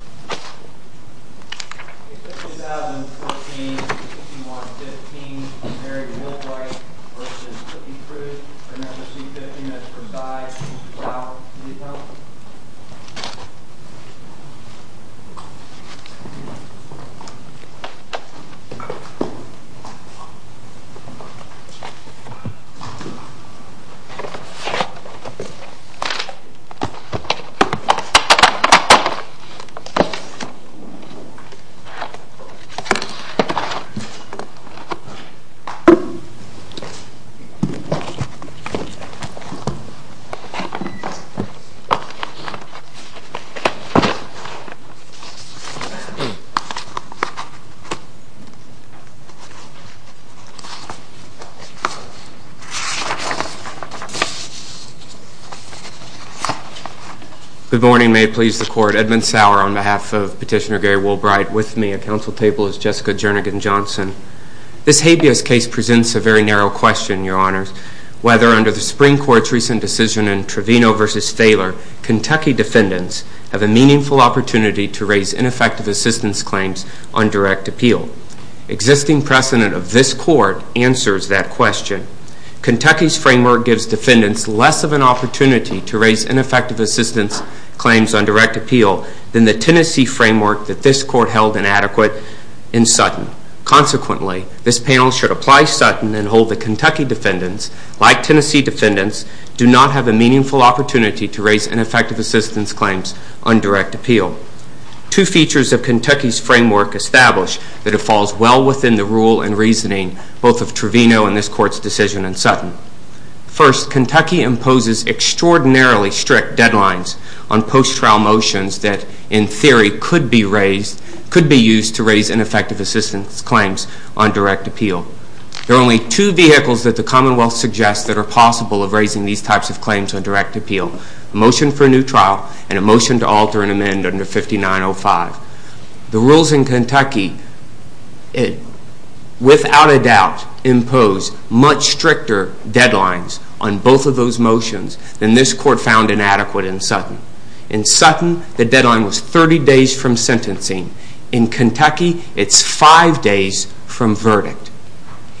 A 5014-5115 Mary Woolbright v. Cookie Crews. Remember C-15, that's for die. This is for foul. Can you tell me? Good morning, may it please the Court. Edmund Sauer on behalf of Petitioner Gary Woolbright with me. At Council Table is Jessica Jernigan Johnson. This habeas case presents a very narrow question, Your Honors, whether under the Supreme Court's recent decision in Trevino v. Thaler, Kentucky defendants have a meaningful opportunity to raise ineffective assistance claims on direct appeal. Existing precedent of this Court answers that question. Kentucky's framework gives defendants less of an opportunity to raise ineffective assistance claims on direct appeal than the Tennessee framework that this Court held inadequate in Sutton. Consequently, this panel should apply Sutton and hold that Kentucky defendants, like Tennessee defendants, do not have a meaningful opportunity to raise ineffective assistance claims on direct appeal. Two features of Kentucky's framework establish that it falls well within the rule and reasoning both of Trevino and this Court's decision in Sutton. First, Kentucky imposes extraordinarily strict deadlines on post-trial motions that, in theory, could be used to raise ineffective assistance claims on direct appeal. There are only two vehicles that the Commonwealth suggests that are possible of raising these types of claims on direct appeal, a motion for a new trial and a motion to alter and amend under 5905. The rules in Kentucky, without a doubt, impose much stricter deadlines on both of those motions than this Court found inadequate in Sutton. In Sutton, the deadline was 30 days from sentencing. In Kentucky, it's five days from verdict.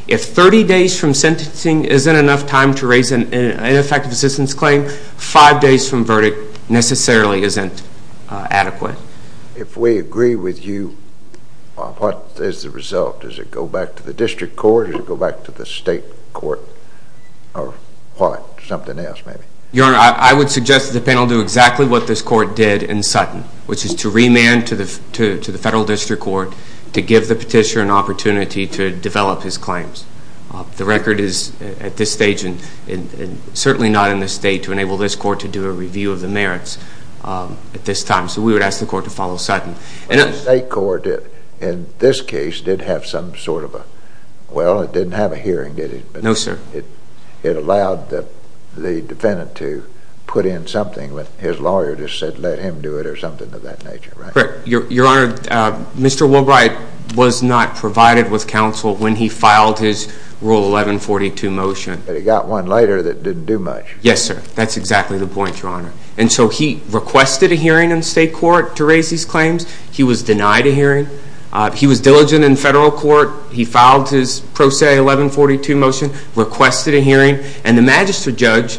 If 30 days from sentencing isn't enough time to raise an ineffective assistance claim, five days from verdict necessarily isn't adequate. If we agree with you, what is the result? Does it go back to the District Court? Does it go back to the State Court? Or what? Something else, maybe. Your Honor, I would suggest that the panel do exactly what this Court did in Sutton, which is to remand to the Federal District Court to give the Petitioner an opportunity to develop his claims. The record is, at this stage and certainly not in the State, to enable this Court to do a review of the merits at this time. So we would ask the Court to follow Sutton. The State Court, in this case, did have some sort of a… Well, it didn't have a hearing, did it? No, sir. It allowed the defendant to put in something, but his lawyer just said, let him do it or something of that nature, right? Correct. Your Honor, Mr. Woolbright was not provided with counsel when he filed his Rule 1142 motion. But he got one later that didn't do much. Yes, sir. That's exactly the point, Your Honor. And so he requested a hearing in State Court to raise his claims. He was denied a hearing. He was diligent in Federal Court. He filed his Pro Se 1142 motion, requested a hearing, and the Magistrate Judge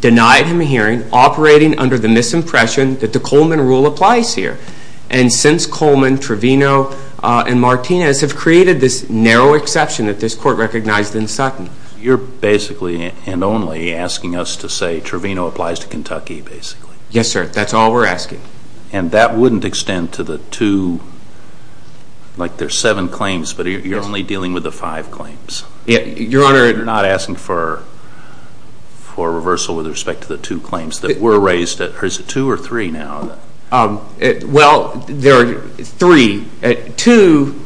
denied him a hearing operating under the misimpression that the Coleman Rule applies here. And since Coleman, Trevino, and Martinez have created this narrow exception that this Court recognized in Sutton. You're basically and only asking us to say Trevino applies to Kentucky, basically. Yes, sir. That's all we're asking. And that wouldn't extend to the two, like there's seven claims, but you're only dealing with the five claims. Your Honor… You're not asking for reversal with respect to the two claims that were raised. Is it two or three now? Well, there are three. Two,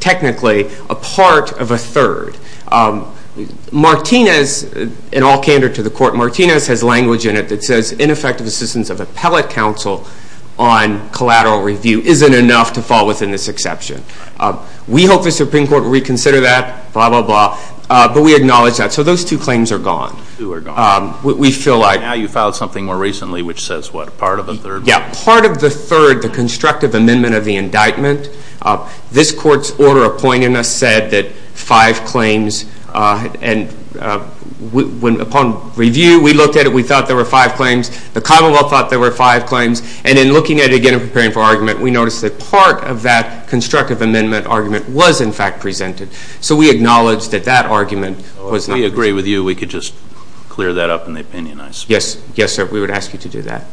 technically, a part of a third. Martinez, in all candor to the Court, Martinez has language in it that says ineffective assistance of appellate counsel on collateral review isn't enough to fall within this exception. We hope the Supreme Court will reconsider that, blah, blah, blah. But we acknowledge that. So those two claims are gone. We feel like… Now you filed something more recently which says what, part of a third? Yeah, part of the third, the constructive amendment of the indictment. This Court's order appointing us said that five claims, and upon review, we looked at it, we thought there were five claims. The commonwealth thought there were five claims. And in looking at it again and preparing for argument, we noticed that part of that constructive amendment argument was, in fact, presented. So we acknowledge that that argument was not presented. Well, we agree with you. We could just clear that up in the opinion. Yes, sir. We would ask you to do that.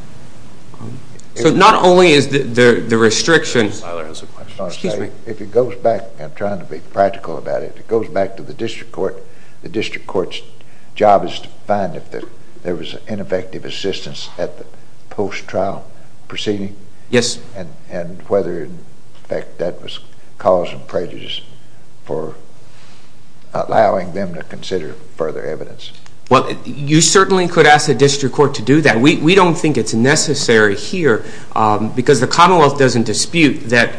So not only is the restriction… Tyler has a question. Excuse me. If it goes back, and I'm trying to be practical about it, if it goes back to the district court, the district court's job is to find if there was ineffective assistance at the post-trial proceeding. Yes. And whether, in fact, that was cause of prejudice for allowing them to consider further evidence. Well, you certainly could ask the district court to do that. We don't think it's necessary here because the commonwealth doesn't dispute that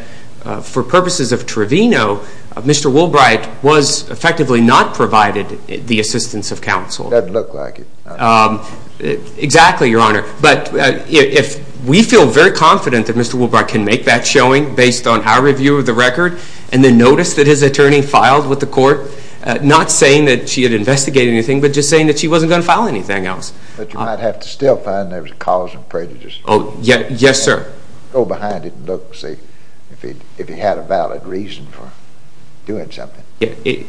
for purposes of Trevino, Mr. Woolbright was effectively not provided the assistance of counsel. Doesn't look like it. Exactly, Your Honor. But we feel very confident that Mr. Woolbright can make that showing based on our review of the record and then notice that his attorney filed with the court not saying that she had investigated anything but just saying that she wasn't going to file anything else. But you might have to still find there was a cause of prejudice. Yes, sir. Go behind it and look and see if he had a valid reason for doing something.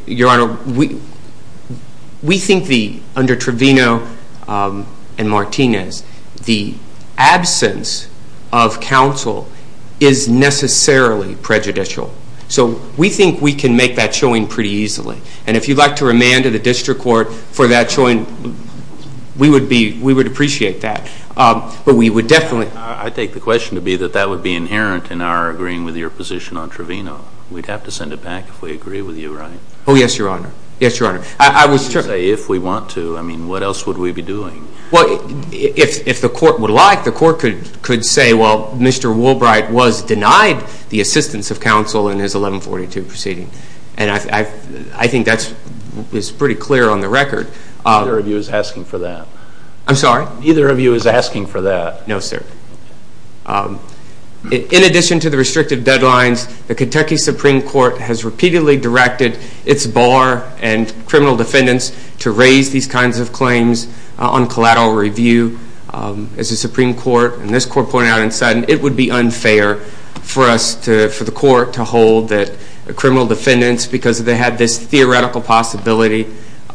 Your Honor, we think under Trevino and Martinez, the absence of counsel is necessarily prejudicial. So we think we can make that showing pretty easily. And if you'd like to remand to the district court for that showing, we would appreciate that. But we would definitely. I take the question to be that that would be inherent in our agreeing with your position on Trevino. We'd have to send it back if we agree with you, right? Oh, yes, Your Honor. Yes, Your Honor. If we want to, I mean, what else would we be doing? Well, if the court would like, the court could say, well, Mr. Woolbright was denied the assistance of counsel in his 1142 proceeding. And I think that is pretty clear on the record. Neither of you is asking for that. I'm sorry? Neither of you is asking for that. No, sir. In addition to the restrictive deadlines, the Kentucky Supreme Court has repeatedly directed its bar and criminal defendants to raise these kinds of claims on collateral review. As the Supreme Court and this Court pointed out in Sutton, it would be unfair for the court to hold that criminal defendants, because they have this theoretical possibility,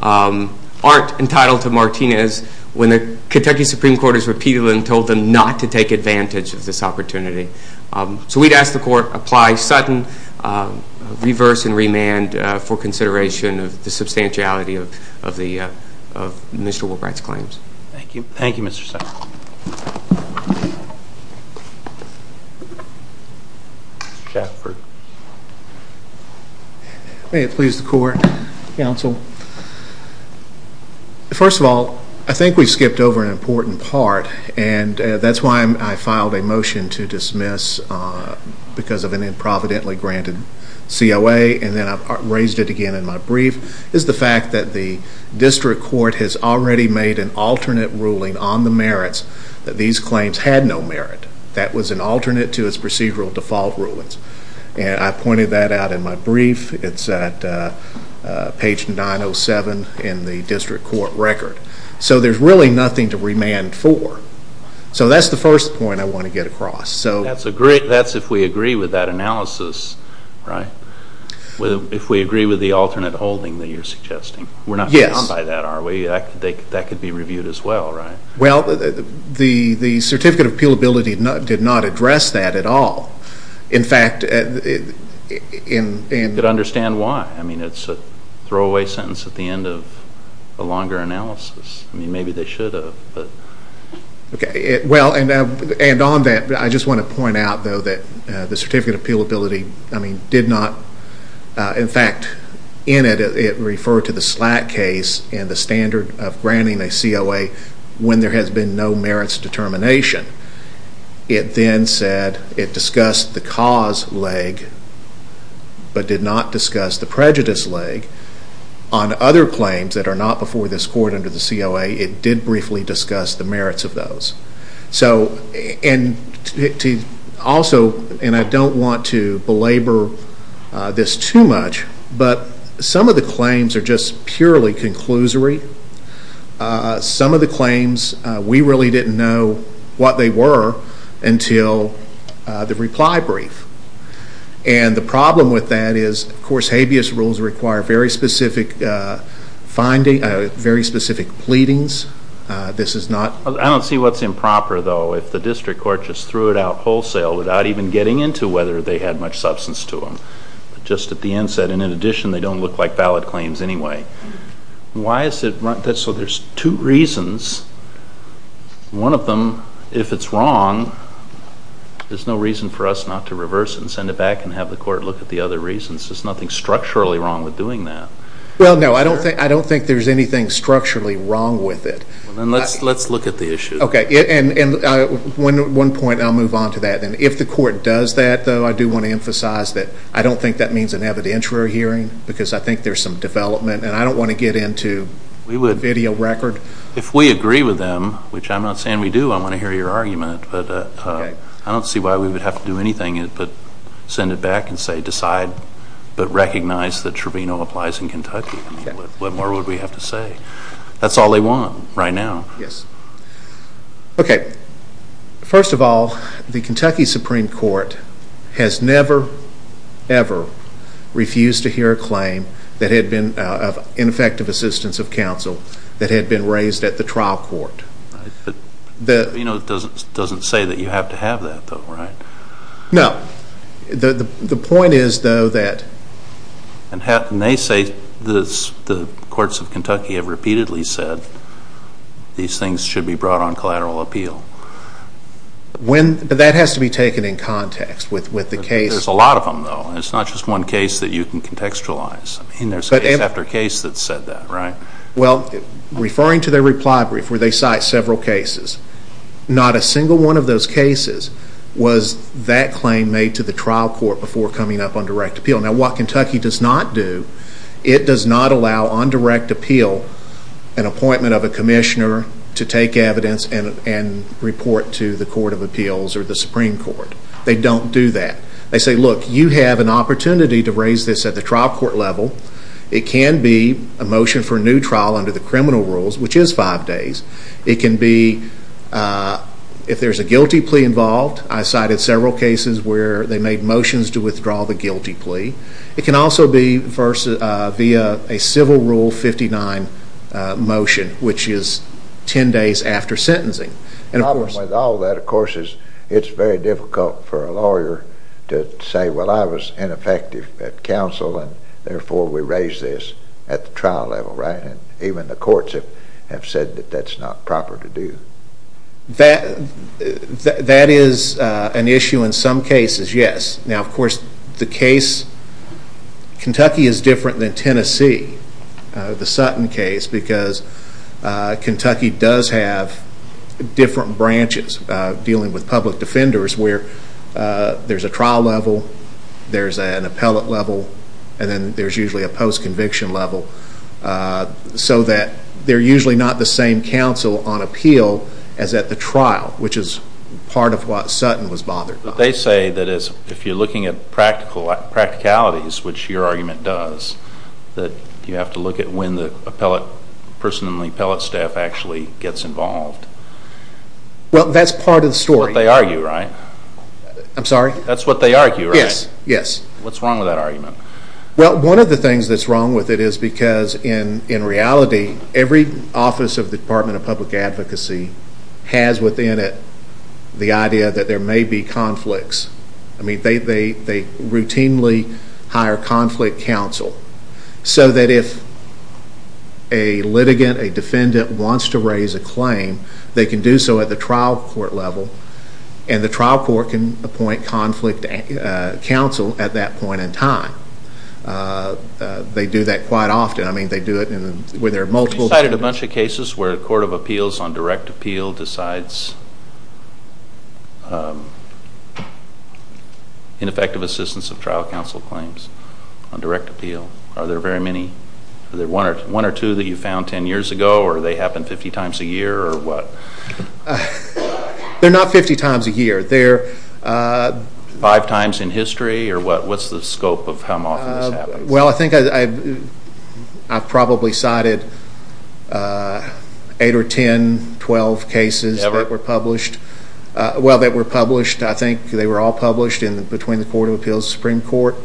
aren't entitled to Martinez when the Kentucky Supreme Court has repeatedly told them not to take advantage of this opportunity. So we'd ask the court apply Sutton, reverse and remand, for consideration of the substantiality of Mr. Woolbright's claims. Thank you. Thank you, Mr. Sutton. Mr. Shatford. May it please the court, counsel. First of all, I think we skipped over an important part, and that's why I filed a motion to dismiss because of an improvidently granted COA, and then I raised it again in my brief, is the fact that the district court has already made an alternate ruling on the merits that these claims had no merit. That was an alternate to its procedural default rulings. And I pointed that out in my brief. It's at page 907 in the district court record. So there's really nothing to remand for. So that's the first point I want to get across. That's if we agree with that analysis, right? If we agree with the alternate holding that you're suggesting. Yes. We're not going to buy that, are we? That could be reviewed as well, right? Well, the certificate of appealability did not address that at all. In fact, in... I don't understand why. I mean, it's a throwaway sentence at the end of a longer analysis. I mean, maybe they should have, but... Okay. Well, and on that, I just want to point out, though, that the certificate of appealability, I mean, did not, in fact, in it, it referred to the SLAC case and the standard of granting a COA when there has been no merits determination. It then said it discussed the cause leg but did not discuss the prejudice leg. On other claims that are not before this court under the COA, it did briefly discuss the merits of those. So, and also, and I don't want to belabor this too much, but some of the claims are just purely conclusory. Some of the claims, we really didn't know what they were until the reply brief. And the problem with that is, of course, habeas rules require very specific findings, very specific pleadings. This is not... I don't see what's improper, though, if the district court just threw it out wholesale without even getting into whether they had much substance to them. Just at the inset, and in addition, they don't look like valid claims anyway. Why is it... So there's two reasons. One of them, if it's wrong, there's no reason for us not to reverse it and send it back and have the court look at the other reasons. There's nothing structurally wrong with doing that. Well, no, I don't think there's anything structurally wrong with it. Then let's look at the issue. Okay, and one point, and I'll move on to that. And if the court does that, though, I do want to emphasize that I don't think that means an evidentiary hearing because I think there's some development, and I don't want to get into a video record. If we agree with them, which I'm not saying we do, I want to hear your argument, but I don't see why we would have to do anything but send it back and say decide, but recognize that Trevino applies in Kentucky. What more would we have to say? That's all they want right now. Yes. Okay. First of all, the Kentucky Supreme Court has never, ever refused to hear a claim of ineffective assistance of counsel that had been raised at the trial court. You know, it doesn't say that you have to have that, though, right? No. The point is, though, that... And they say the courts of Kentucky have repeatedly said these things should be brought on collateral appeal. But that has to be taken in context with the case. There's a lot of them, though. It's not just one case that you can contextualize. I mean, there's case after case that said that, right? Well, referring to their reply brief where they cite several cases, not a single one of those cases was that claim made to the trial court before coming up on direct appeal. Now, what Kentucky does not do, it does not allow on direct appeal an appointment of a commissioner to take evidence and report to the Court of Appeals or the Supreme Court. They don't do that. They say, look, you have an opportunity to raise this at the trial court level. It can be a motion for a new trial under the criminal rules, which is five days. It can be if there's a guilty plea involved. I cited several cases where they made motions to withdraw the guilty plea. It can also be via a civil rule 59 motion, which is ten days after sentencing. The problem with all that, of course, is it's very difficult for a lawyer to say, well, I was ineffective at counsel, and therefore we raise this at the trial level, right? And even the courts have said that that's not proper to do. That is an issue in some cases, yes. Now, of course, Kentucky is different than Tennessee, the Sutton case, because Kentucky does have different branches dealing with public defenders where there's a trial level, there's an appellate level, and then there's usually a post-conviction level so that they're usually not the same counsel on appeal as at the trial, which is part of what Sutton was bothered by. They say that if you're looking at practicalities, which your argument does, that you have to look at when the person on the appellate staff actually gets involved. Well, that's part of the story. That's what they argue, right? I'm sorry? That's what they argue, right? Yes. What's wrong with that argument? Well, one of the things that's wrong with it is because, in reality, every office of the Department of Public Advocacy has within it the idea that there may be conflicts. I mean, they routinely hire conflict counsel so that if a litigant, a defendant, wants to raise a claim, they can do so at the trial court level, and the trial court can appoint conflict counsel at that point in time. They do that quite often. I mean, they do it when there are multiple defendants. You cited a bunch of cases where the Court of Appeals on direct appeal decides ineffective assistance of trial counsel claims on direct appeal. Are there one or two that you found 10 years ago, or they happen 50 times a year, or what? They're not 50 times a year. Five times in history, or what's the scope of how often this happens? Well, I think I've probably cited 8 or 10, 12 cases that were published. Ever? Well, that were published, I think they were all published between the Court of Appeals and the Supreme Court.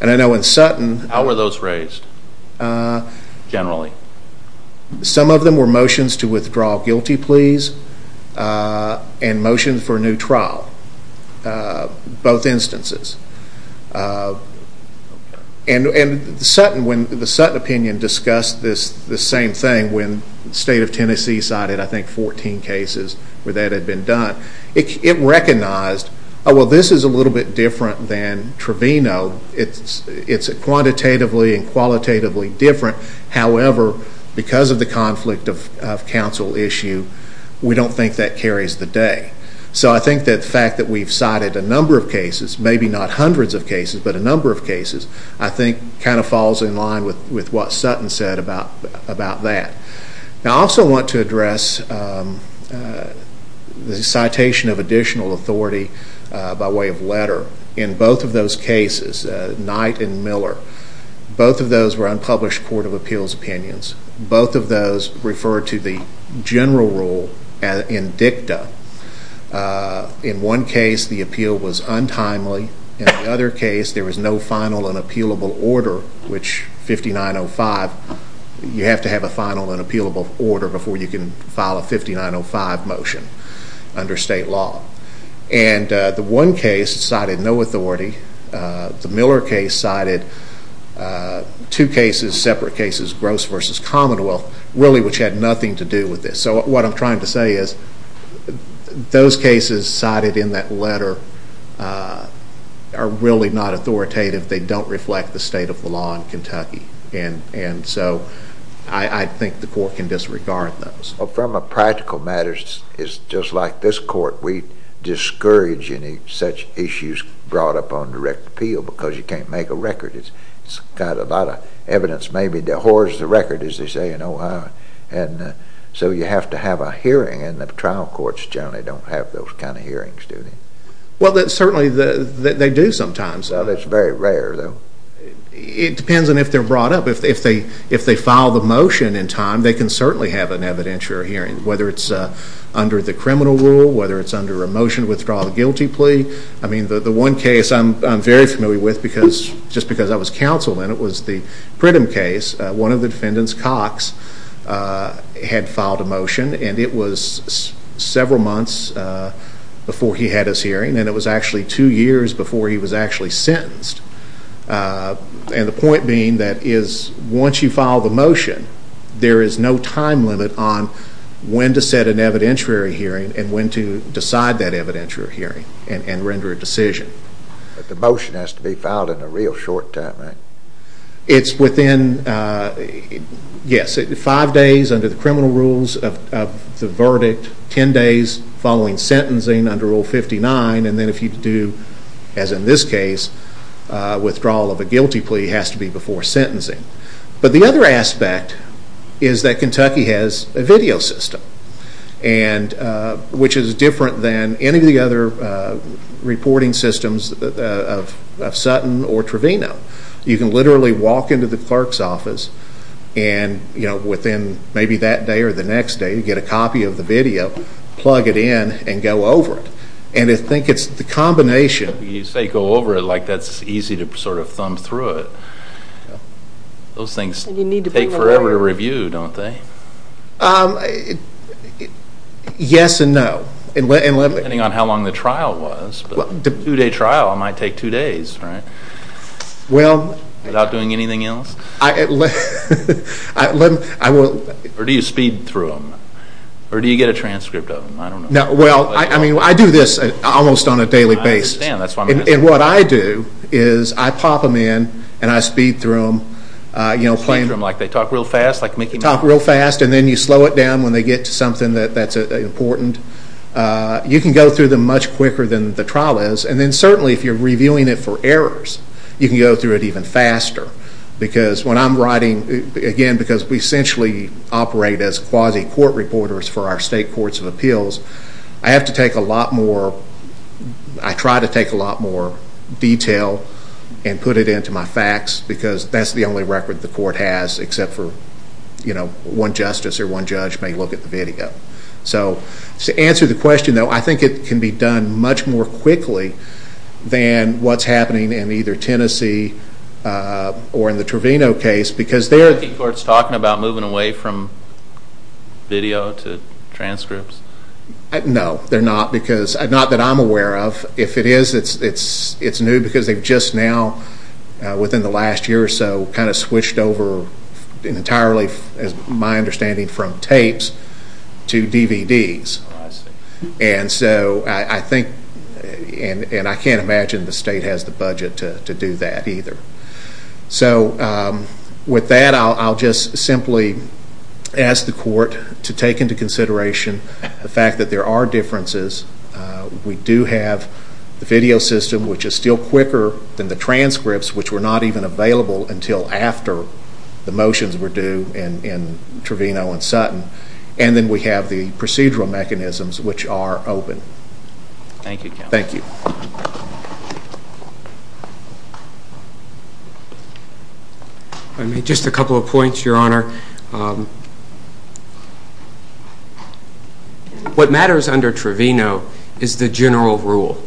And I know in Sutton… How were those raised generally? Some of them were motions to withdraw guilty pleas and motions for a new trial, both instances. And the Sutton opinion discussed this same thing when the state of Tennessee cited, I think, 14 cases where that had been done. It recognized, oh, well, this is a little bit different than Trevino. It's quantitatively and qualitatively different. However, because of the conflict of counsel issue, we don't think that carries the day. So I think that the fact that we've cited a number of cases, maybe not hundreds of cases, but a number of cases, I think kind of falls in line with what Sutton said about that. I also want to address the citation of additional authority by way of letter in both of those cases, Knight and Miller. Both of those were unpublished Court of Appeals opinions. Both of those refer to the general rule in dicta. In one case, the appeal was untimely. In the other case, there was no final and appealable order, which 5905, you have to have a final and appealable order before you can file a 5905 motion under state law. And the one case cited no authority. The Miller case cited two cases, separate cases, Gross v. Commonwealth, really which had nothing to do with this. So what I'm trying to say is those cases cited in that letter are really not authoritative. They don't reflect the state of the law in Kentucky. And so I think the Court can disregard those. Well, from a practical matter, it's just like this Court. We discourage any such issues brought up on direct appeal because you can't make a record. It's got a lot of evidence maybe that hoards the record, as they say in Ohio. And so you have to have a hearing, and the trial courts generally don't have those kind of hearings, do they? Well, certainly they do sometimes. Well, it's very rare, though. It depends on if they're brought up. If they file the motion in time, they can certainly have an evidentiary hearing, whether it's under the criminal rule, whether it's under a motion to withdraw the guilty plea. I mean, the one case I'm very familiar with, just because I was counsel in it, was the Pridham case. One of the defendants, Cox, had filed a motion, and it was several months before he had his hearing, and it was actually two years before he was actually sentenced. And the point being that once you file the motion, there is no time limit on when to set an evidentiary hearing and when to decide that evidentiary hearing and render a decision. But the motion has to be filed in a real short time, right? It's within, yes, five days under the criminal rules of the verdict, ten days following sentencing under Rule 59, and then if you do, as in this case, withdrawal of a guilty plea, it has to be before sentencing. But the other aspect is that Kentucky has a video system, which is different than any of the other reporting systems of Sutton or Trevino. You can literally walk into the clerk's office, and within maybe that day or the next day, you get a copy of the video, plug it in, and go over it. And I think it's the combination. You say go over it like that's easy to sort of thumb through it. Those things take forever to review, don't they? Yes and no. Depending on how long the trial was. A two-day trial might take two days, right? Without doing anything else? Or do you get a transcript of them? Well, I do this almost on a daily basis. I understand. And what I do is I pop them in and I speed through them. You speed through them, like they talk real fast, like Mickey Mouse? They talk real fast, and then you slow it down when they get to something that's important. You can go through them much quicker than the trial is, and then certainly if you're reviewing it for errors, you can go through it even faster. Because when I'm writing, again, because we essentially operate as quasi-court reporters for our state courts of appeals, I have to take a lot more, I try to take a lot more detail and put it into my facts, because that's the only record the court has, except for one justice or one judge may look at the video. So to answer the question, though, I think it can be done much more quickly than what's happening in either Tennessee or in the Trevino case, because there are... Are the courts talking about moving away from video to transcripts? No, they're not, because not that I'm aware of. If it is, it's new, because they've just now, within the last year or so, kind of switched over entirely, as my understanding, from tapes to DVDs. Oh, I see. And so I think, and I can't imagine the state has the budget to do that either. So with that, I'll just simply ask the court to take into consideration the fact that there are differences. We do have the video system, which is still quicker than the transcripts, which were not even available until after the motions were due in Trevino and Sutton. And then we have the procedural mechanisms, which are open. Thank you, Counselor. Thank you. Just a couple of points, Your Honor. What matters under Trevino is the general rule,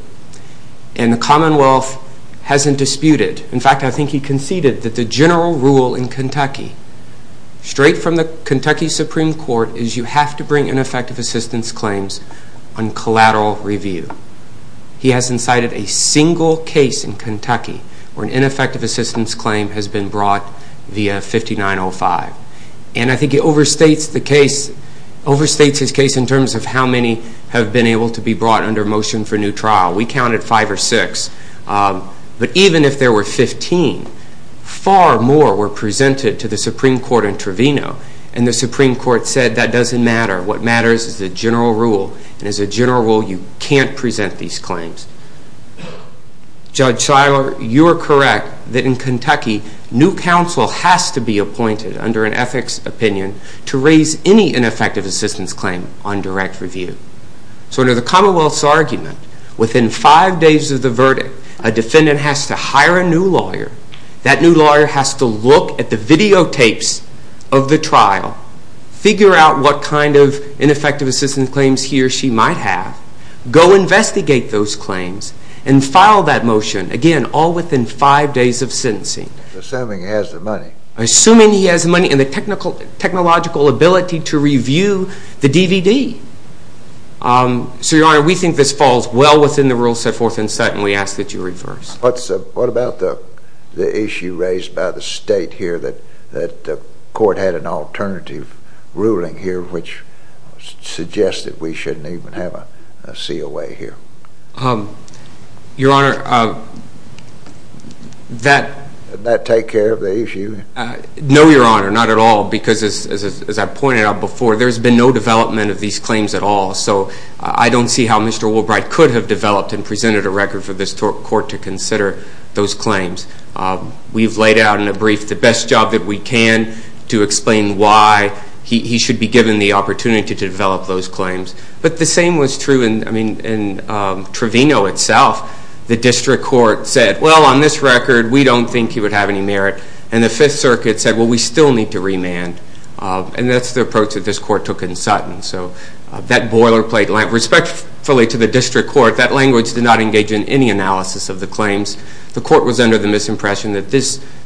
and the Commonwealth hasn't disputed. In fact, I think he conceded that the general rule in Kentucky, straight from the Kentucky Supreme Court, is you have to bring ineffective assistance claims on collateral review. He hasn't cited a single case in Kentucky where an ineffective assistance claim has been brought via 5905. And I think he overstates his case in terms of how many have been able to be brought under motion for new trial. We counted five or six. But even if there were 15, far more were presented to the Supreme Court in Trevino, and the Supreme Court said that doesn't matter. What matters is the general rule. And as a general rule, you can't present these claims. Judge Shiler, you are correct that in Kentucky, new counsel has to be appointed under an ethics opinion to raise any ineffective assistance claim on direct review. So under the Commonwealth's argument, within five days of the verdict, a defendant has to hire a new lawyer. That new lawyer has to look at the videotapes of the trial, figure out what kind of ineffective assistance claims he or she might have, go investigate those claims, and file that motion, again, all within five days of sentencing. Assuming he has the money. Assuming he has the money and the technological ability to review the DVD. So, Your Honor, we think this falls well within the rules set forth in set, and we ask that you reverse. What about the issue raised by the state here that the court had an alternative ruling here which suggested we shouldn't even have a COA here? Your Honor, that... Did that take care of the issue? No, Your Honor, not at all. Because as I pointed out before, there's been no development of these claims at all. So I don't see how Mr. Woolbright could have developed and presented a record for this court to consider those claims. We've laid out in a brief the best job that we can to explain why he should be given the opportunity to develop those claims. But the same was true in Trevino itself. The district court said, well, on this record, we don't think he would have any merit. And the Fifth Circuit said, well, we still need to remand. And that's the approach that this court took in Sutton. So that boilerplate language, respectfully to the district court, that language did not engage in any analysis of the claims. The court was under the misimpression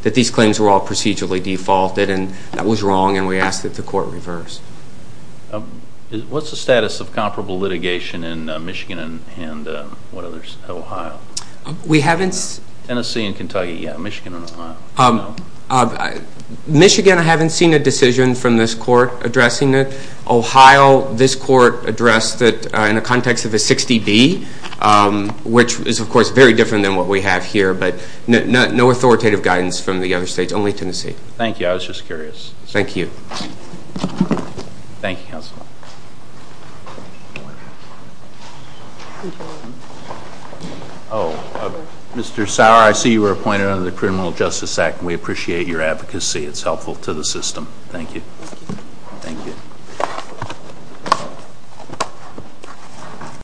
that these claims were all procedurally defaulted, and that was wrong, and we ask that the court reverse. What's the status of comparable litigation in Michigan and Ohio? We haven't... Tennessee and Kentucky, yeah, Michigan and Ohio. Michigan, I haven't seen a decision from this court addressing it. Ohio, this court addressed it in the context of a 60-D, which is, of course, very different than what we have here, but no authoritative guidance from the other states, only Tennessee. Thank you. I was just curious. Thank you. Thank you, counsel. Thank you. Mr. Sauer, I see you were appointed under the Criminal Justice Act, and we appreciate your advocacy. It's helpful to the system. Thank you. Thank you.